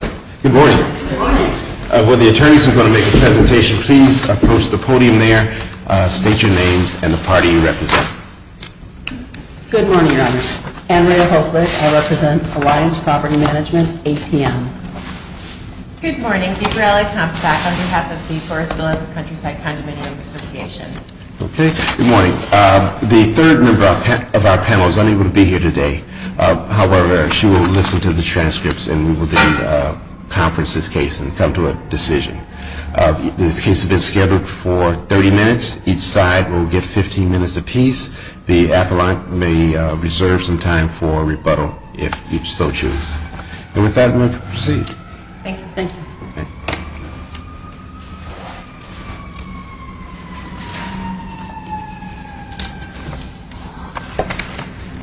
Good morning. Will the attorneys who are going to make the presentation please approach the podium there, state your names, and the party you represent. Good morning, Your Honors. Andrea Hoeflich. I represent Alliance Property Management, APM. Good morning. Gabriella Comstock on behalf of the Forest Villas of Countryside Condominium Association. Okay, good morning. The third member of our panel is unable to be here today. However, she will listen to the transcripts and we will then conference this case and come to a decision. This case has been scheduled for 30 minutes. Each side will get 15 minutes apiece. The appellant may reserve some time for rebuttal if you so choose. And with that, we will proceed. Thank you.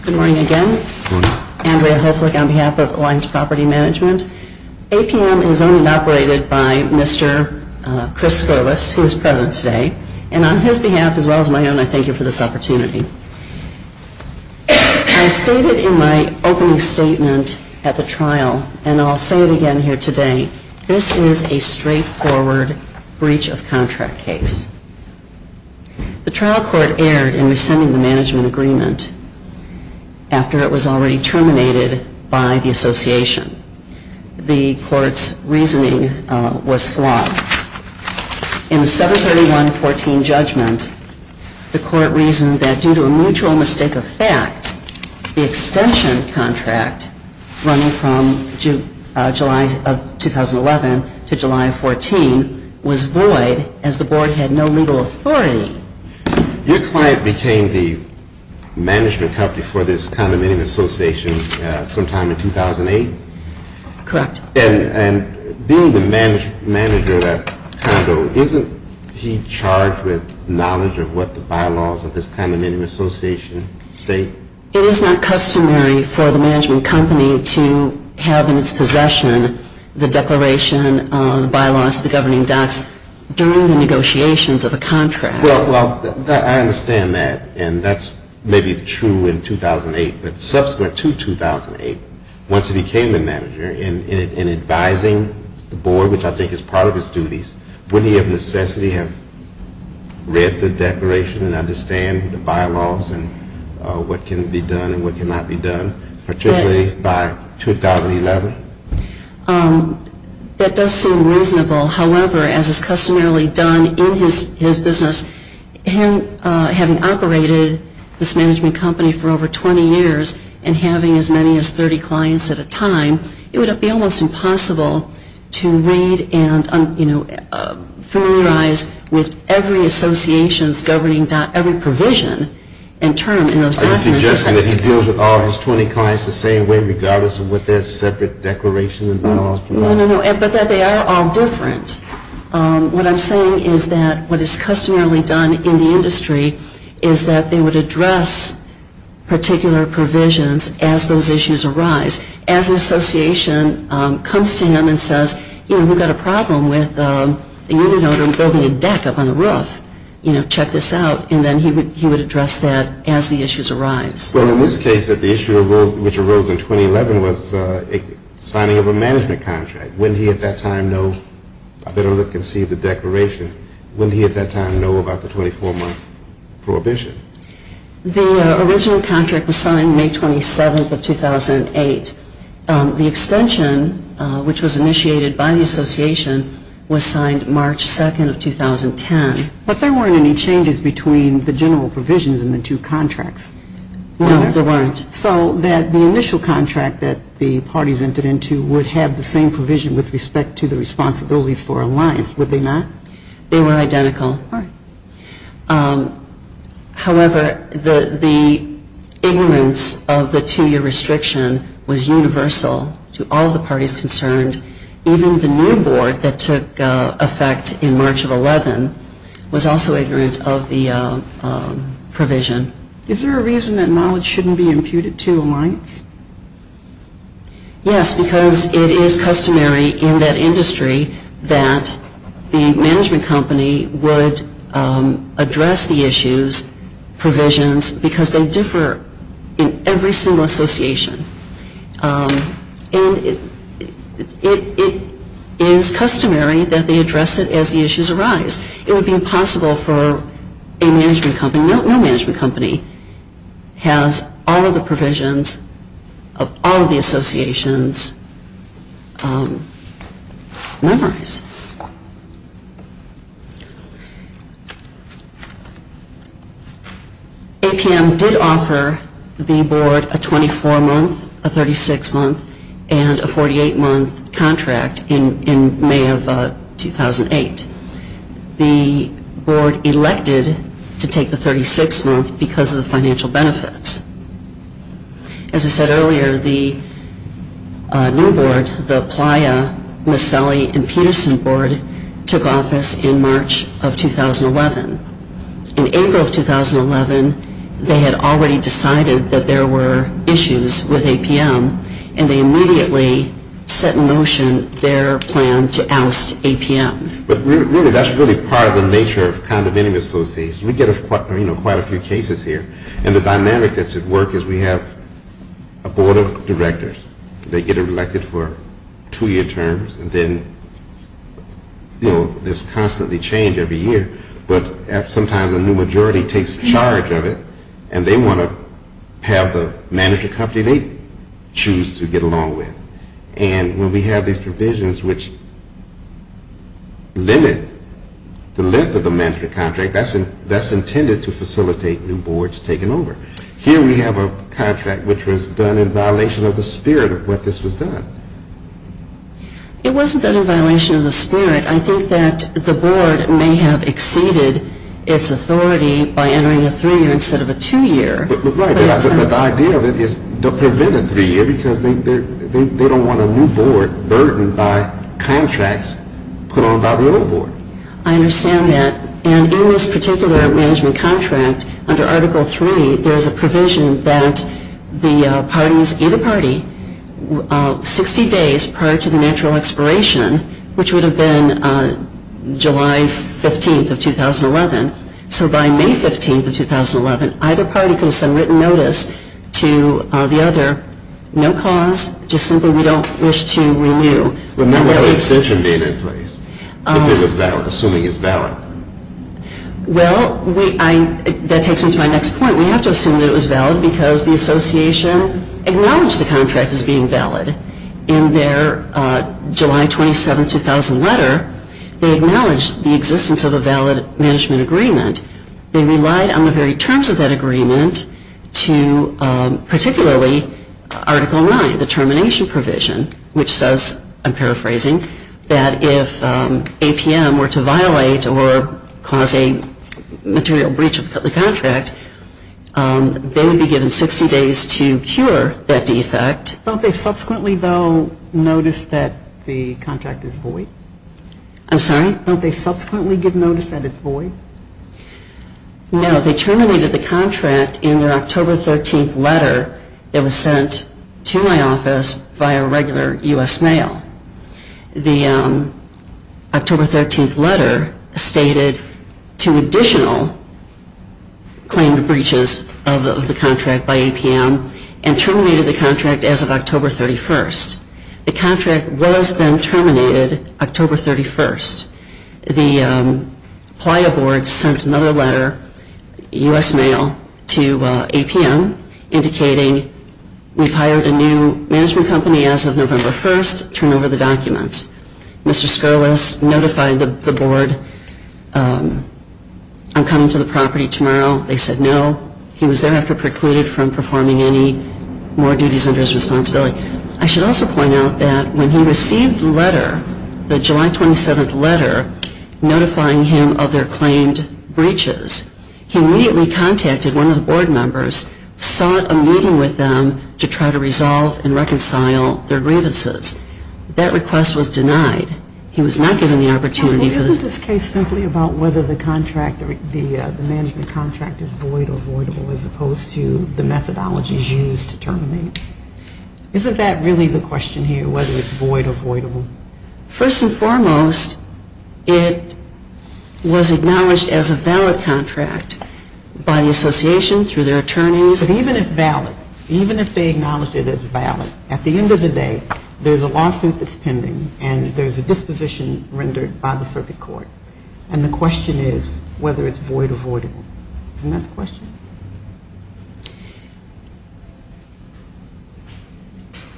Good morning again. Andrea Hoeflich on behalf of Alliance Property Management. APM is owned and operated by Mr. Chris Scolas, who is present today. And on his behalf, as well as my own, I thank you for this opportunity. I stated in my opening statement at the trial, and I'll say it again here today, this is a straightforward breach of contract case. The trial court erred in rescinding the management agreement after it was already terminated by the association. The court's reasoning was flawed. In the 731-14 judgment, the court reasoned that due to a mutual mistake of fact, the extension contract running from July of 2011 to July of 14 was void as the board had no legal authority. Your client became the management company for this condominium association sometime in 2008? Correct. And being the manager of that condo, isn't he charged with knowledge of what the bylaws of this condominium association state? It is not customary for the management company to have in its possession the declaration, the bylaws, the governing docs during the negotiations of a contract. Well, I understand that. And that's maybe true in 2008. But subsequent to 2008, once he became the manager, in advising the board, which I think is part of his duties, wouldn't he have necessarily have read the declaration and understand the bylaws and what can be done and what cannot be done, particularly by 2011? That does seem reasonable. However, as is customarily done in his business, him having operated this management company for over 20 years and having as many as 30 clients at a time, it would be almost impossible to read and, you know, familiarize with every association's governing doc, every provision and term in those documents. Are you suggesting that he deals with all his 20 clients the same way regardless of what their separate declarations and bylaws provide? No, no, no. But that they are all different. What I'm saying is that what is customarily done in the industry is that they would address particular provisions as those issues arise. Well, in this case, the issue which arose in 2011 was a signing of a management contract. Wouldn't he at that time know, I better look and see the declaration, wouldn't he at that time know about the 24-month prohibition? The original contract was signed May 27th of 2008. And it was a 24-month prohibition. The extension, which was initiated by the association, was signed March 2nd of 2010. But there weren't any changes between the general provisions in the two contracts. No, there weren't. So that the initial contract that the parties entered into would have the same provision with respect to the responsibilities for alliance, would they not? They were identical. However, the ignorance of the two-year restriction was universal to all the parties concerned. Even the new board that took effect in March of 2011 was also ignorant of the provision. Is there a reason that knowledge shouldn't be imputed to alliance? Yes, because it is customary in that industry that the management company would address the issues, provisions, because they differ in every single association. And it is customary that they address it as the issues arise. It would be impossible for a management company, no management company, has all of the provisions of all of the associations memorized. APM did offer the board a 24-month, a 36-month, and a 48-month contract in May of 2008. The board elected to take the 36-month because of the financial benefits. As I said earlier, the new board, the Playa, Miscellany, and Peterson board took office in March of 2011. In April of 2011, they had already decided that there were issues with APM, and they immediately set in motion their plan to oust APM. But really, that's really part of the nature of condominium associations. We get quite a few cases here. And the dynamic that's at work is we have a board of directors. They get elected for two-year terms, and then there's constantly change every year. But sometimes a new majority takes charge of it, and they want to have the management company they choose to get along with. And when we have these provisions which limit the length of the management contract, that's intended to facilitate new boards taking over. Here we have a contract which was done in violation of the spirit of what this was done. It wasn't done in violation of the spirit. I think that the board may have exceeded its authority by entering a three-year instead of a two-year. But the idea of it is to prevent a three-year because they don't want a new board burdened by contracts put on by the old board. I understand that. And in this particular management contract, under Article III, there's a provision that the parties, either party, 60 days prior to the natural expiration, which would have been July 15th of 2011. So by May 15th of 2011, either party could have sent written notice to the other. No cause, just simply we don't wish to renew. Remember the extension being in place. If it was valid, assuming it's valid. Well, that takes me to my next point. We have to assume that it was valid because the association acknowledged the contract as being valid. In their July 27, 2000 letter, they acknowledged the existence of a valid management agreement. They relied on the very terms of that agreement to particularly Article IX, the termination provision, which says, I'm paraphrasing, that if APM were to violate or cause a material breach of the contract, they would be given 60 days to cure that defect. Don't they subsequently, though, notice that the contract is void? I'm sorry? Don't they subsequently give notice that it's void? No, they terminated the contract in their October 13th letter that was sent to my office via regular U.S. mail. The October 13th letter stated two additional claimed breaches of the contract by APM and terminated the contract as of October 31st. The contract was then terminated October 31st. The Playa board sent another letter, U.S. mail, to APM, indicating we've hired a new management company as of November 1st. Turn over the documents. Mr. Scurlus notified the board, I'm coming to the property tomorrow. They said no. He was thereafter precluded from performing any more duties under his responsibility. I should also point out that when he received the letter, the July 27th letter, notifying him of their claimed breaches, he immediately contacted one of the board members, sought a meeting with them to try to resolve and reconcile their grievances. That request was denied. He was not given the opportunity. Isn't this case simply about whether the management contract is void or voidable as opposed to the methodologies used to terminate? Isn't that really the question here, whether it's void or voidable? First and foremost, it was acknowledged as a valid contract by the association, through their attorneys. But even if valid, even if they acknowledged it as valid, and there's a disposition rendered by the circuit court. And the question is whether it's void or voidable. Isn't that the question?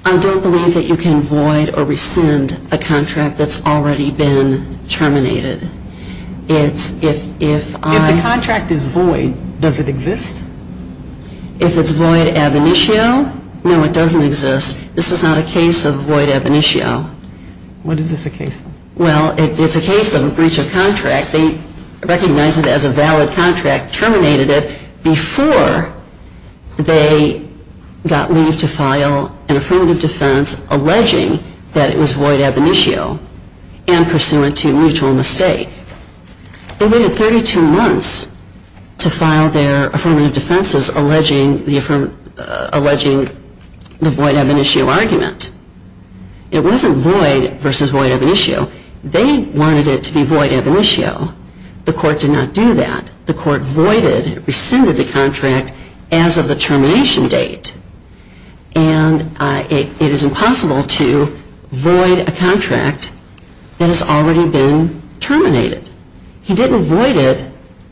I don't believe that you can void or rescind a contract that's already been terminated. If the contract is void, does it exist? If it's void ab initio, no, it doesn't exist. This is not a case of void ab initio. What is this a case of? Well, it's a case of a breach of contract. They recognized it as a valid contract, terminated it, before they got leave to file an affirmative defense alleging that it was void ab initio and pursuant to mutual mistake. They waited 32 months to file their affirmative defenses alleging the void ab initio argument. It wasn't void versus void ab initio. They wanted it to be void ab initio. The court did not do that. The court voided, rescinded the contract as of the termination date. And it is impossible to void a contract that has already been terminated. He didn't void it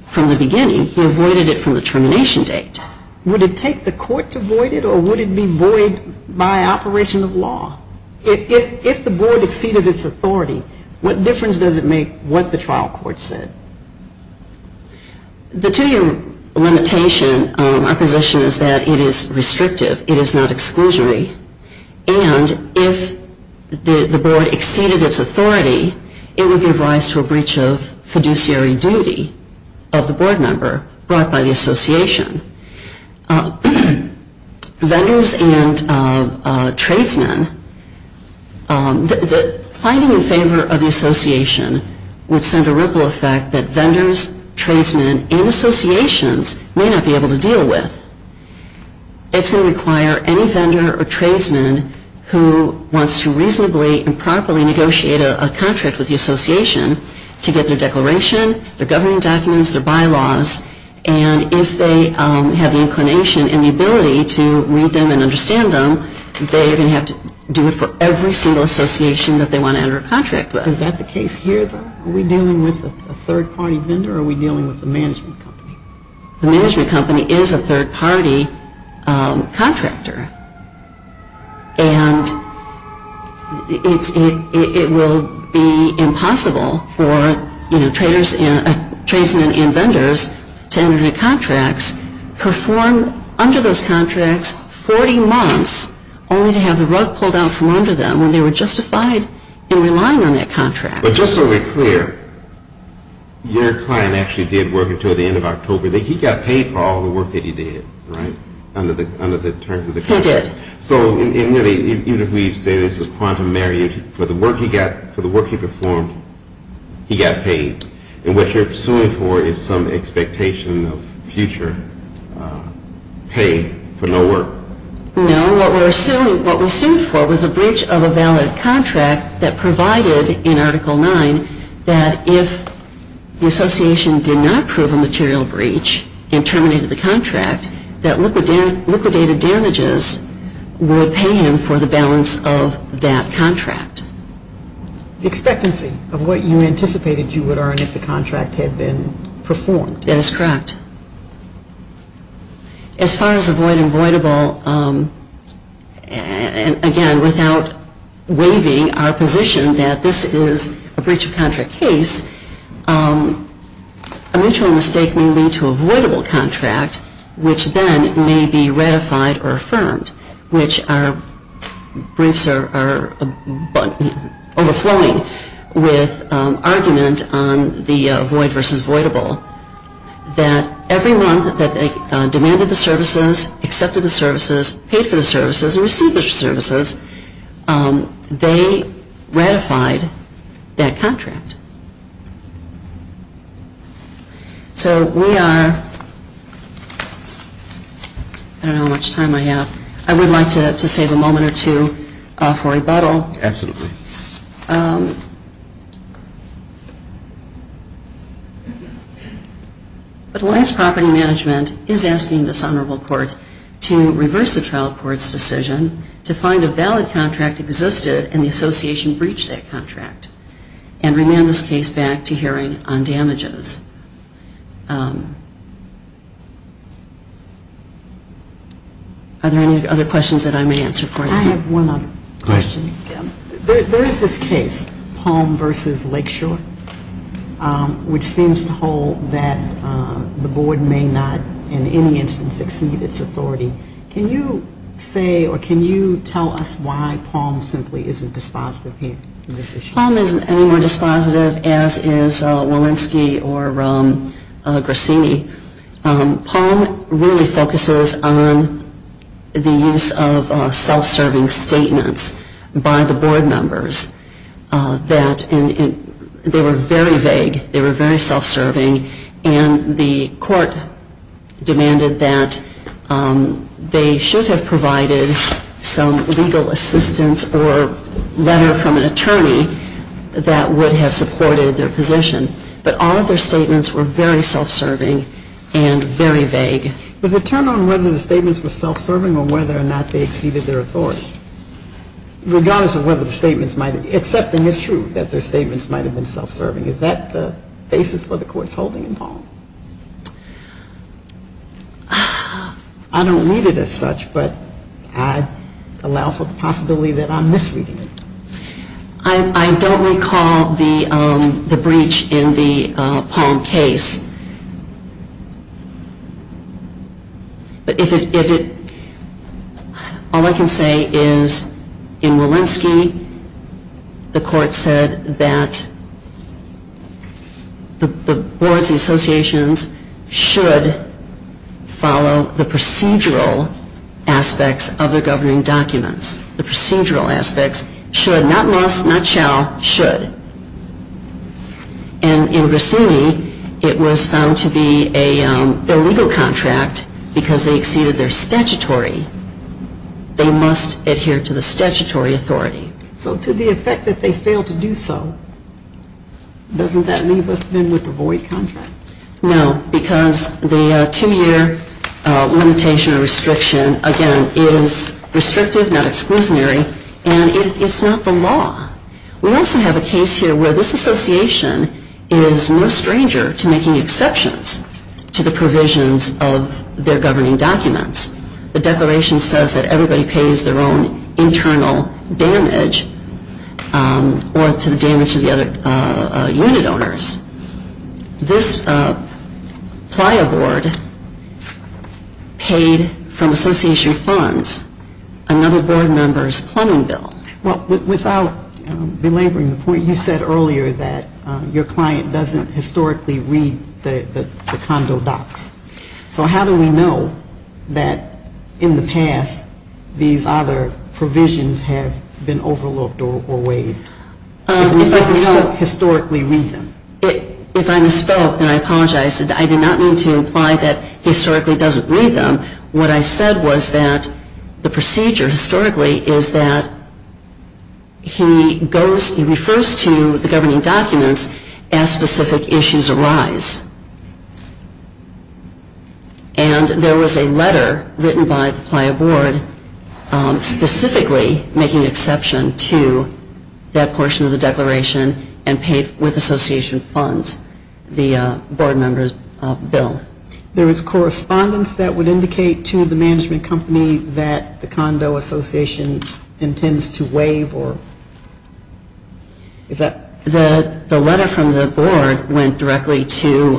from the beginning. He avoided it from the termination date. But would it take the court to void it or would it be void by operation of law? If the board exceeded its authority, what difference does it make what the trial court said? The two-year limitation, our position is that it is restrictive. It is not exclusionary. And if the board exceeded its authority, it would give rise to a breach of fiduciary duty of the board member brought by the association. Vendors and tradesmen, fighting in favor of the association would send a ripple effect that vendors, tradesmen, and associations may not be able to deal with. It's going to require any vendor or tradesman who wants to reasonably and properly negotiate a contract with the association to get their declaration, their governing documents, their bylaws. And if they have the inclination and the ability to read them and understand them, they are going to have to do it for every single association that they want to enter a contract with. Is that the case here though? Are we dealing with a third-party vendor or are we dealing with the management company? The management company is a third-party contractor. And it will be impossible for, you know, traders and, tradesmen and vendors to enter contracts, perform under those contracts 40 months only to have the rug pulled out from under them when they were justified in relying on that contract. But just to be clear, your client actually did work until the end of October. He got paid for all the work that he did, right? Under the terms of the contract. Yes, he did. So, even if we say this is a quantum marriage, for the work he performed, he got paid. And what you're suing for is some expectation of future pay for no work. No, what we're suing for was a breach of a valid contract that provided in Article 9 that if the association did not prove a material breach and terminated the contract, that liquidated damages would pay him for the balance of that contract. Expectancy of what you anticipated you would earn if the contract had been performed. That is correct. As far as avoidable, again, without waiving our position that this is a breach of contract case, a mutual mistake may lead to avoidable contract, which then may be ratified or affirmed, which our briefs are overflowing with argument on the avoid versus avoidable, that everyone that demanded the services, accepted the services, paid for the services, and received the services, they ratified that contract. So we are, I don't know how much time I have, I would like to save a moment or two for rebuttal. Absolutely. But Alliance Property Management is asking this Honorable Court to reverse the trial court's decision and the association breached that contract. And remand this case back to hearing on damages. Are there any other questions that I may answer for you? I have one other question. There is this case, Palm versus Lakeshore, which seems to hold that the board may not, in any instance, exceed its authority. Can you say or can you tell us why Palm simply isn't dispositive here in this issue? Palm isn't any more dispositive as is Walensky or Grassini. Palm really focuses on the use of self-serving statements by the board members. They were very vague. They were very self-serving. And the court demanded that they should have provided some legal assistance or letter from an attorney that would have supported their position. But all of their statements were very self-serving and very vague. Does it turn on whether the statements were self-serving or whether or not they exceeded their authority? Regardless of whether the statements might have been. Accepting is true that their statements might have been self-serving. Is that the basis for the court's holding in Palm? I don't read it as such, but I allow for the possibility that I'm misreading it. I don't recall the breach in the Palm case. All I can say is in Walensky, the court said that the boards and associations should follow the procedural aspects of their governing documents. The procedural aspects should, not must, not shall, should. And in Grissini, it was found to be a illegal contract because they exceeded their statutory. They must adhere to the statutory authority. So to the effect that they failed to do so, doesn't that leave us then with a void contract? No, because the two-year limitation or restriction, again, is restrictive, not exclusionary, and it's not the law. We also have a case here where this association is no stranger to making exceptions to the provisions of their governing documents. The declaration says that everybody pays their own internal damage or to the damage of the other unit owners. This Playa board paid from association funds another board member's plumbing bill. Well, without belaboring the point, you said earlier that your client doesn't historically read the condo docs. So how do we know that in the past these other provisions have been overlooked or waived? If we can still historically read them. If I misspoke and I apologize, I did not mean to imply that he historically doesn't read them. What I said was that the procedure historically is that he refers to the governing documents as specific issues arise. And there was a letter written by the Playa board specifically making exception to that portion of the declaration and paid with association funds, the board member's bill. There was correspondence that would indicate to the management company that the condo association intends to waive or... Is that... The letter from the board went directly to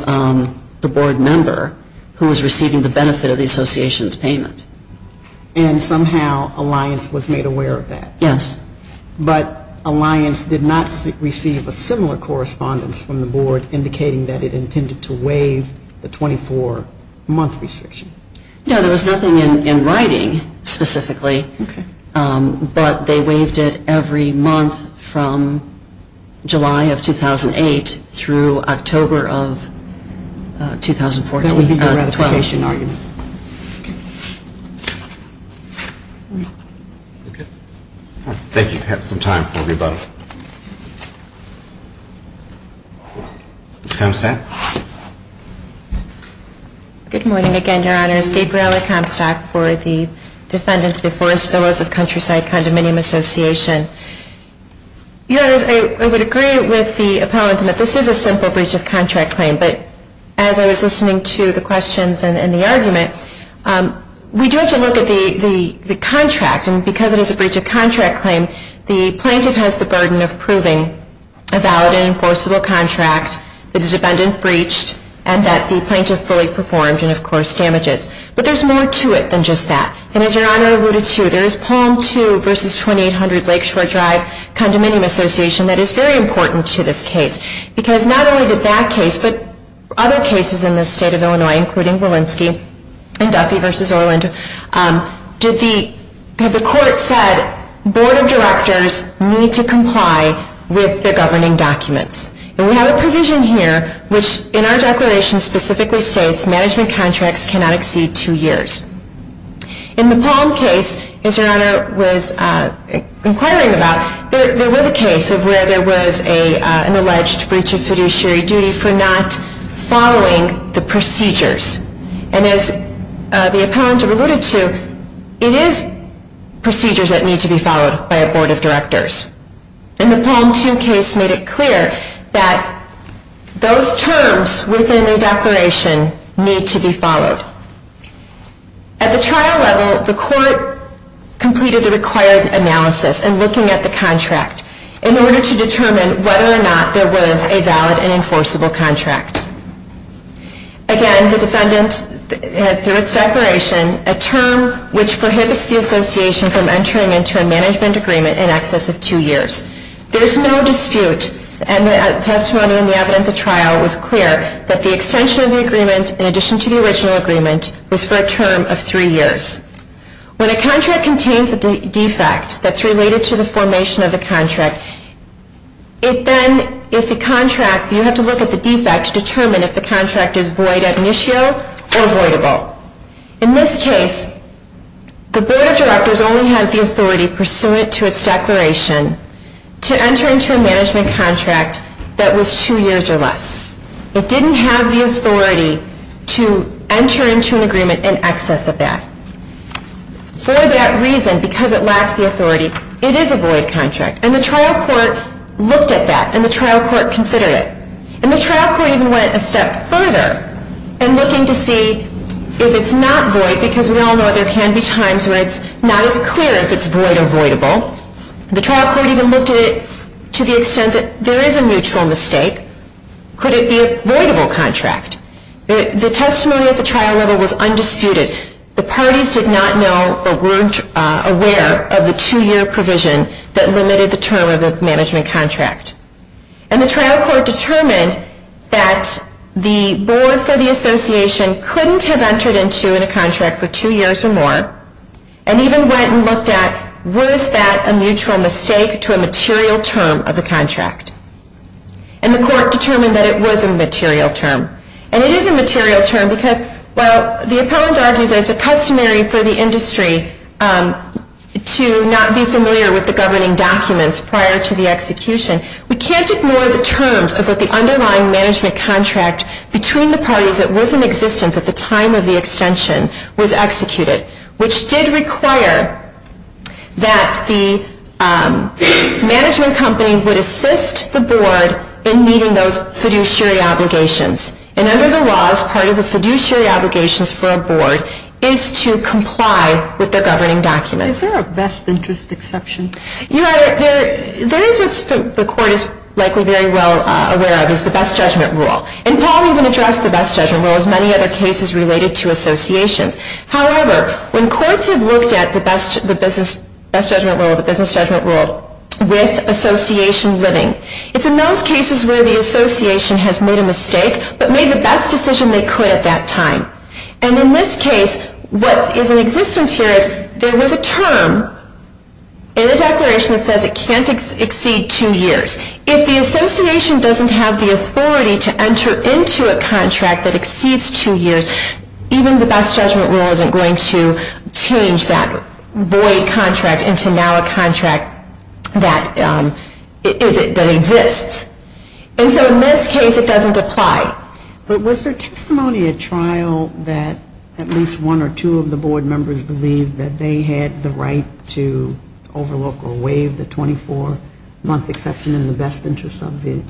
the board member who was receiving the benefit of the association's payment. And somehow Alliance was made aware of that. Yes. But Alliance did not receive a similar correspondence from the board indicating that it intended to waive the 24-month restriction. No, there was nothing in writing specifically. Okay. But they waived it every month from July of 2008 through October of 2014. That would be the ratification argument. Okay. Okay. Thank you. I have some time for rebuttal. Ms. Comstock? Good morning again, Your Honors. Gabriela Comstock for the Defendants of the Forest Villas of Countryside Condominium Association. Your Honors, I would agree with the appellant that this is a simple breach of contract claim. But as I was listening to the questions and the argument, we do have to look at the contract. And because it is a breach of contract claim, the plaintiff has the burden of proving a valid and enforceable contract that the defendant breached and that the plaintiff fully performed and, of course, damages. But there's more to it than just that. And as Your Honor alluded to, there is Poem 2 v. 2800 Lakeshore Drive Condominium Association that is very important to this case. Because not only did that case, but other cases in the state of Illinois, including Walensky and Duffy v. Orland, the court said, Board of Directors need to comply with the governing documents. And we have a provision here which in our declaration specifically states management contracts cannot exceed two years. In the Palm case, as Your Honor was inquiring about, there was a case where there was an alleged breach of fiduciary duty for not following the procedures. And as the appellant alluded to, it is procedures that need to be followed by a Board of Directors. And the Palm 2 case made it clear that those terms within the declaration need to be followed. At the trial level, the court completed the required analysis in looking at the contract in order to determine whether or not there was a valid and enforceable contract. Again, the defendant, through its declaration, has a term which prohibits the association from entering into a management agreement in excess of two years. There is no dispute, and the testimony in the evidence at trial was clear, that the extension of the agreement in addition to the original agreement was for a term of three years. When a contract contains a defect that's related to the formation of the contract, it then, if the contract, is void, it means the Board of Directors only had the authority, pursuant to its declaration, to enter into a management contract that was two years or less. It didn't have the authority to enter into an agreement in excess of that. For that reason, because it lacked the authority, it is a void contract. And the trial court looked at that, and the trial court considered it. Now, there can be times where it's not as clear if it's void or voidable. The trial court even looked at it to the extent that there is a mutual mistake. Could it be a voidable contract? The testimony at the trial level was undisputed. The parties did not know or weren't aware of the two-year provision that limited the term of the management contract. And the trial court determined that it was a material term. And it is a material term because, while the appellant argues that it's a customary for the industry to not be familiar with the governing documents prior to the execution, we can't ignore the terms of what the underlying management contract between the parties that was in existence at the time of the extension was executed. Which did require that the management company would assist the board in meeting those fiduciary obligations. And under the laws, part of the fiduciary obligations for a board is to comply with the governing documents. Is there a best interest exception? There is what the court is likely very well aware of is the best judgment rule. And Paul even addressed the best judgment rule as many other cases related to associations. However, when courts have looked at the best judgment rule with association living, it's in those cases where the association has made a mistake but made the best decision they could at that time. And in this case, what is in existence here is there was a term in the declaration that says it can't exceed two years. If the association doesn't have the authority to enter into a contract that exceeds two years, even the best judgment rule isn't going to change that void contract into now a contract that exists. And so in this case, it doesn't apply. But was there testimony at trial that at least one or two of the board members believed that they had the right to overlook or waive the 24-month exception in the best interest of the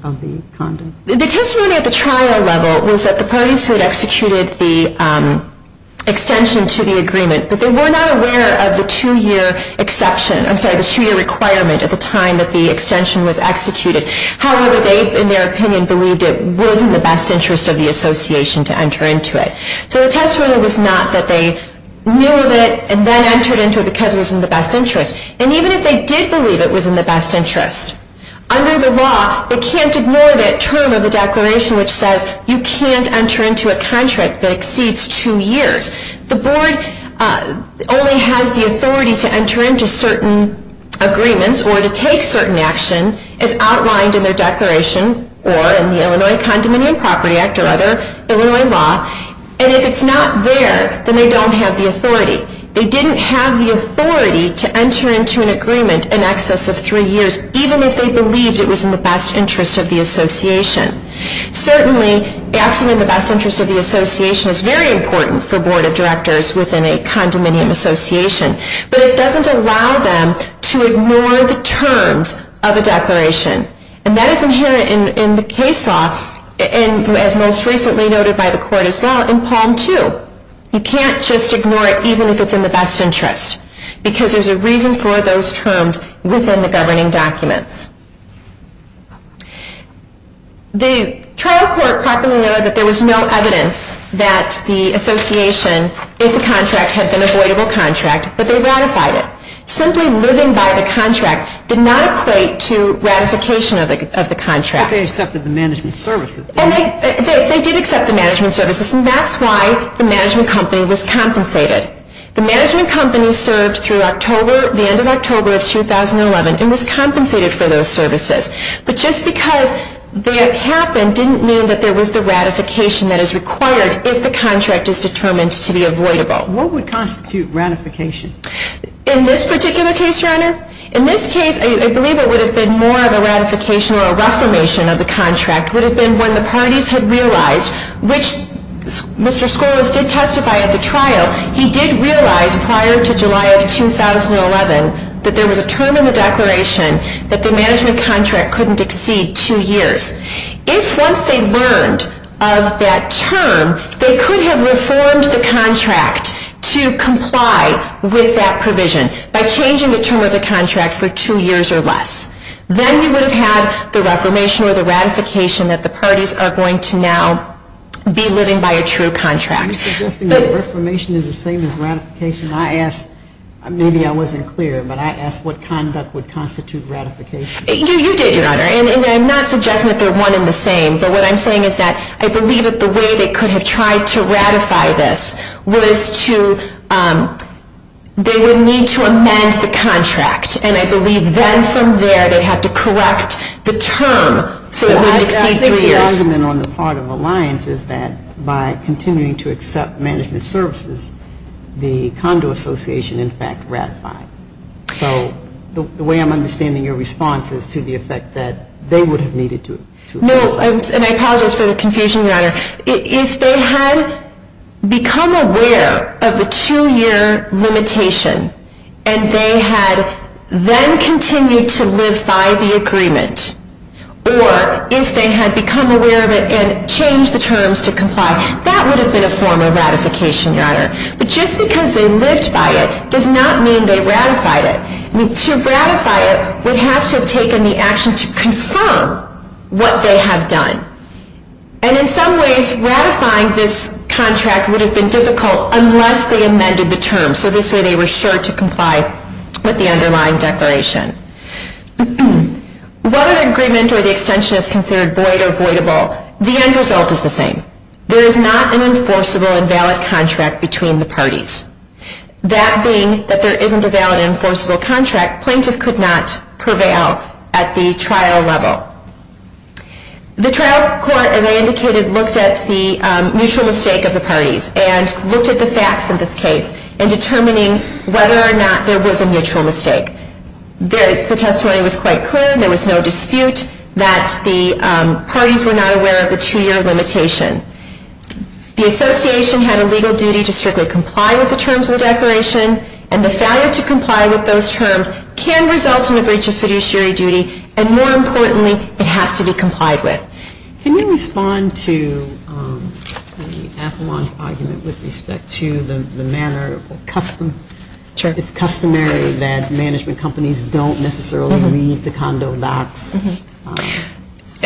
condom? The testimony at the trial level was that the parties who had executed the extension to the agreement, that they were not aware of the two-year exception, I'm sorry, the two-year requirement at the time that the extension was executed. However, they, in their opinion, believed it was in the best interest of the association to enter into it. So the testimony was not that they knew of it and then entered into it because it was in the best interest. And even if they did believe it was in the best interest, under the law, it can't ignore that term of the declaration which says you can't enter into a contract that exceeds two years. The board only has the authority to enter into certain agreements or to take certain action as outlined in their declaration or in the Illinois Condominium Property Act or other Illinois law. And if it's not there, then they don't have the authority. They didn't have the authority to enter into an agreement in excess of three years, even if they believed it was in the best interest of the association. Certainly, acting in the best interest of the association is very important for board of directors within a condominium association, but it doesn't allow them to ignore the terms of a declaration. And that is inherent in the case law and as most recently noted by the court as well, in Palm 2. You can't just ignore it even if it's in the best interest because there's a reason for those terms within the governing documents. The trial court properly noted that there was no evidence that the association was in the best interest of the association if the contract had been an avoidable contract, but they ratified it. Simply living by the contract did not equate to ratification of the contract. But they accepted the management services, didn't they? They did accept the management services, and that's why the management company was compensated. The management company served through the end of October of 2011 and was compensated for those services. But just because that happened didn't mean that there was the ratification that is required if the contract is determined to be avoidable. What would constitute ratification? In this particular case, Your Honor, in this case I believe it would have been more of a ratification or a reformation of the contract. It would have been when the parties had realized which Mr. Skouras did testify of the trial. He did realize prior to July of 2011 that there was a term in the declaration that the management contract couldn't exceed two years. If once they learned of that term, they could have reformed the contract to comply with that term. I believe that reformation is the same as ratification. I asked, maybe I wasn't clear, but I asked what conduct would constitute ratification. You did, Your Honor, and I'm not suggesting that they're one and the same, but what I'm suggesting is that if they had become aware of the two-year had then continued to live by the agreement or if they had been aware of the two-year limitation and they had been aware limitation and they continued to live by the agreement or if they had been aware of the two-year limitation and they continued to live by the agreement or if they had been aware of the two-year limitation. The association had a legal duty to strictly comply with the terms of the declaration and the failure to comply with those terms can result in a breach of fiduciary duty and more importantly it has to be complied with. Can you respond to the Avalon argument with respect to the manner of custom it's customary that management companies don't necessarily read the condo docs?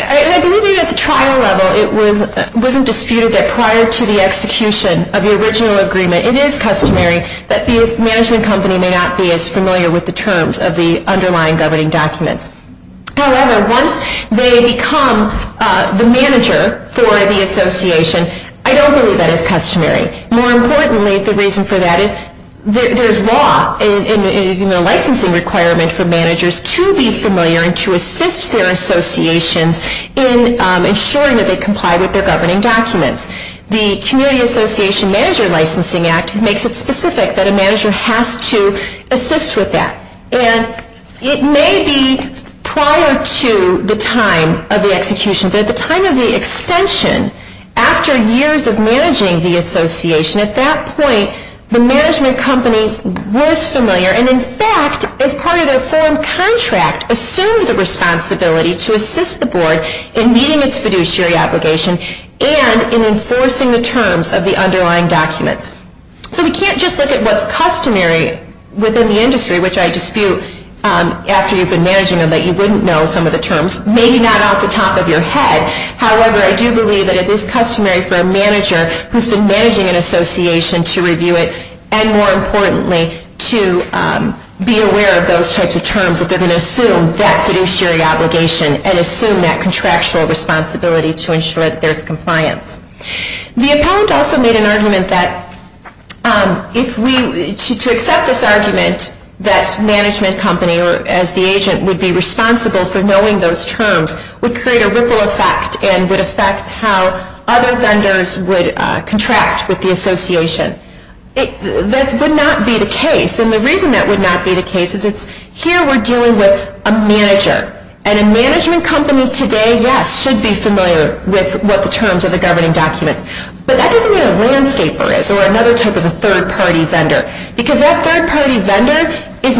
I believe at the trial level it wasn't disputed that prior to the execution of the original agreement it is customary that the management company may not be as familiar with the terms of the underlying governing documents. However, once they become the manager for the association, I don't believe that it's customary. More importantly, the reason for that is there was a formal contract that makes it specific that a manager has to assist with that. And it may be prior to the time of the execution, but at the time of the extension, after years of managing the association, at that point, the management company with the terms of the underlying governing documents. So we can't just look at what's customary within the industry, which I dispute after you've been managing them that you wouldn't know some of the terms, maybe not off the top of your head. If we to accept this argument that management company or as the agent would be responsible for knowing those terms would create a ripple effect and would affect how other vendors would contract with the association. That would not be the case. And the reason that would not be the case is here we're dealing with a manager. And a management company today, yes, should be familiar with what the terms of the governing documents. But that doesn't mean a landscaper is or another type of a third party vendor. Because that third party vendor should be responsible for knowing the terms of the governing documents. And the third party vendor should be responsible for knowing the terms of the governing documents. And that would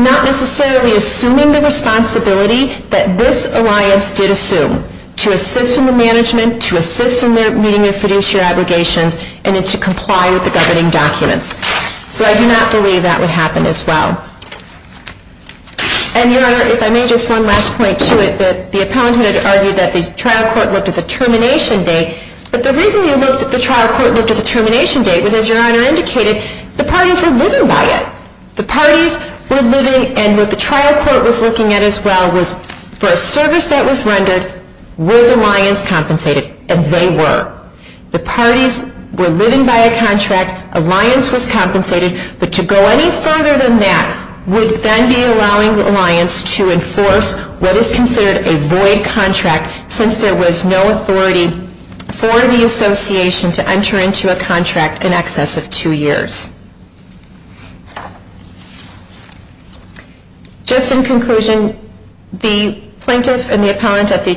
then be allowing the alliance to enforce what is considered a void contract since there was no authority for the association to enter into a contract in excess of two years. Just in conclusion, the plaintiff and the appellant at the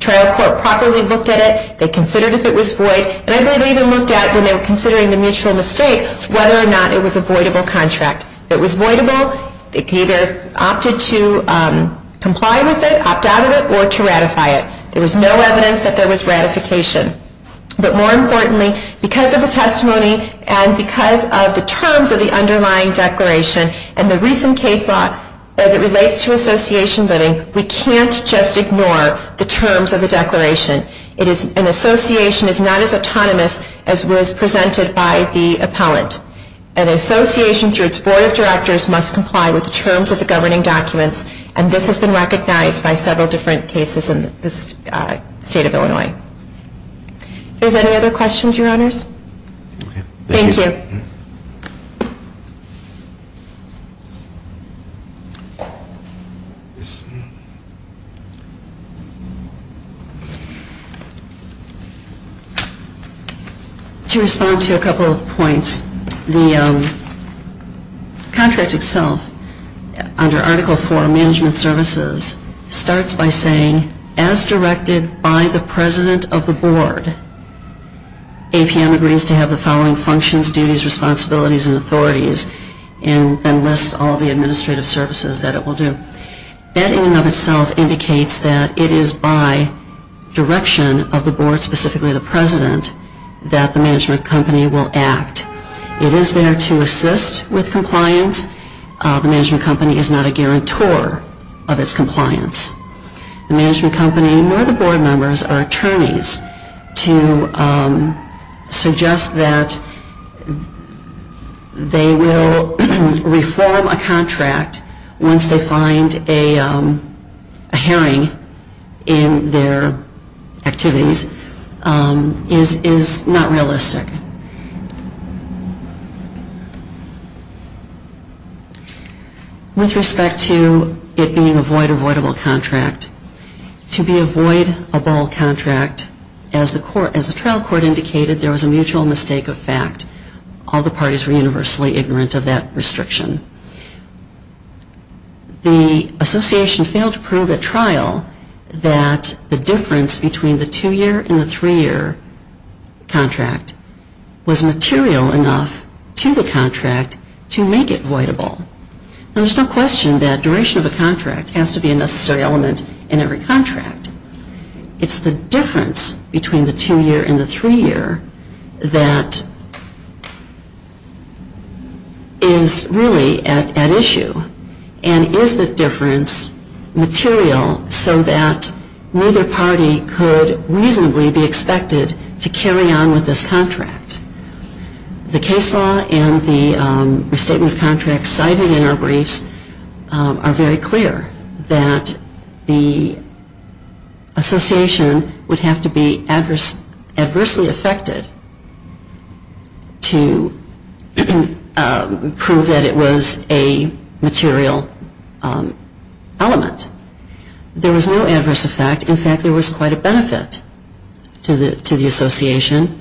trial court properly looked at it, they considered if it was void, and I believe they even looked at when they were considering the mutual mistake whether or not it was a voidable contract. It was voidable. They either opted to comply with it, opt out of it, or to ratify it. There was no evidence that there was ratification. But more importantly, because of the testimony and because of the terms of the underlying declaration and the recent case law as it relates to association voting, we can't just ignore the terms of the declaration. An association is not as autonomous as was presented by the appellant. An association through its board of directors must comply with the terms of the governing documents, and this has been recognized by several different cases in the state of Illinois. Are there any other questions, Your Honors? Thank you. To respond to the contract itself, under Article 4, Management Services, starts by saying, as directed by the board of directors, the president of the board, APM agrees to have the following functions, duties, responsibilities, and authorities, and then lists all the administrative services that it will do. That in and of itself indicates that it is by direction of the board, specifically the president, that the management company will act. It is there to assist with compliance. The management company is not a guarantor of its compliance. The management company, nor the board members, are attorneys to suggest that they will reform a contract once they find a herring in their activities is not realistic. With respect to it being a void avoidable contract, to be a void avoidable contract, as the trial court indicated, there was a mutual mistake of fact. All the parties were universally ignorant of that restriction. The association failed to prove at trial that the difference between the two-year and the three-year contract was material enough to the contract to make it voidable. There's no question that duration of a contract has to be a necessary element in every contract. It's the difference between the two-year and the three-year that is really at issue and is the difference material so that neither party could reasonably be expected to carry on with this contract. The case law and the restatement of contracts cited in our briefs are very clear that the association would have to be adversely affected to prove that it was a material element. There was no adverse effect. In fact, there was quite a benefit to the association.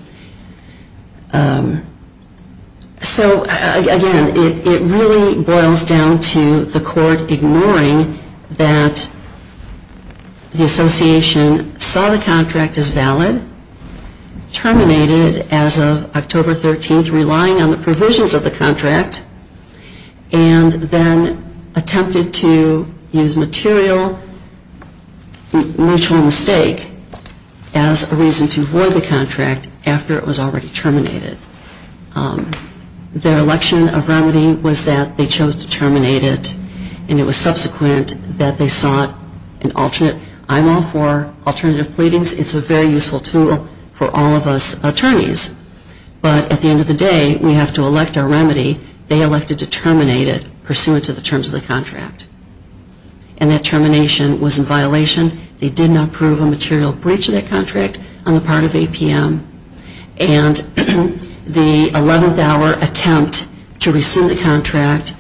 So, again, it really boils down to the court ignoring that the association saw the contract as valid, terminated as of October 13th relying on the provisions of the contract, and then attempted to use material mutual mistake as a reason to void the contract after it was already terminated. Their election of remedy was that they chose to terminate it and it was subsequent that they sought an alternate. I'm all for alternative pleadings. It's a very useful tool for all of us to to proceed with the contract. And that termination was in violation. They did not approve a material breach of that contract on the part of APM. And the 11th hour attempt to rescind the contract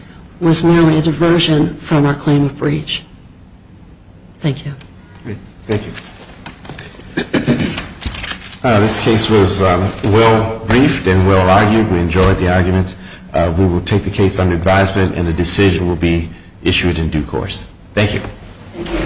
issued in due course. Thank you.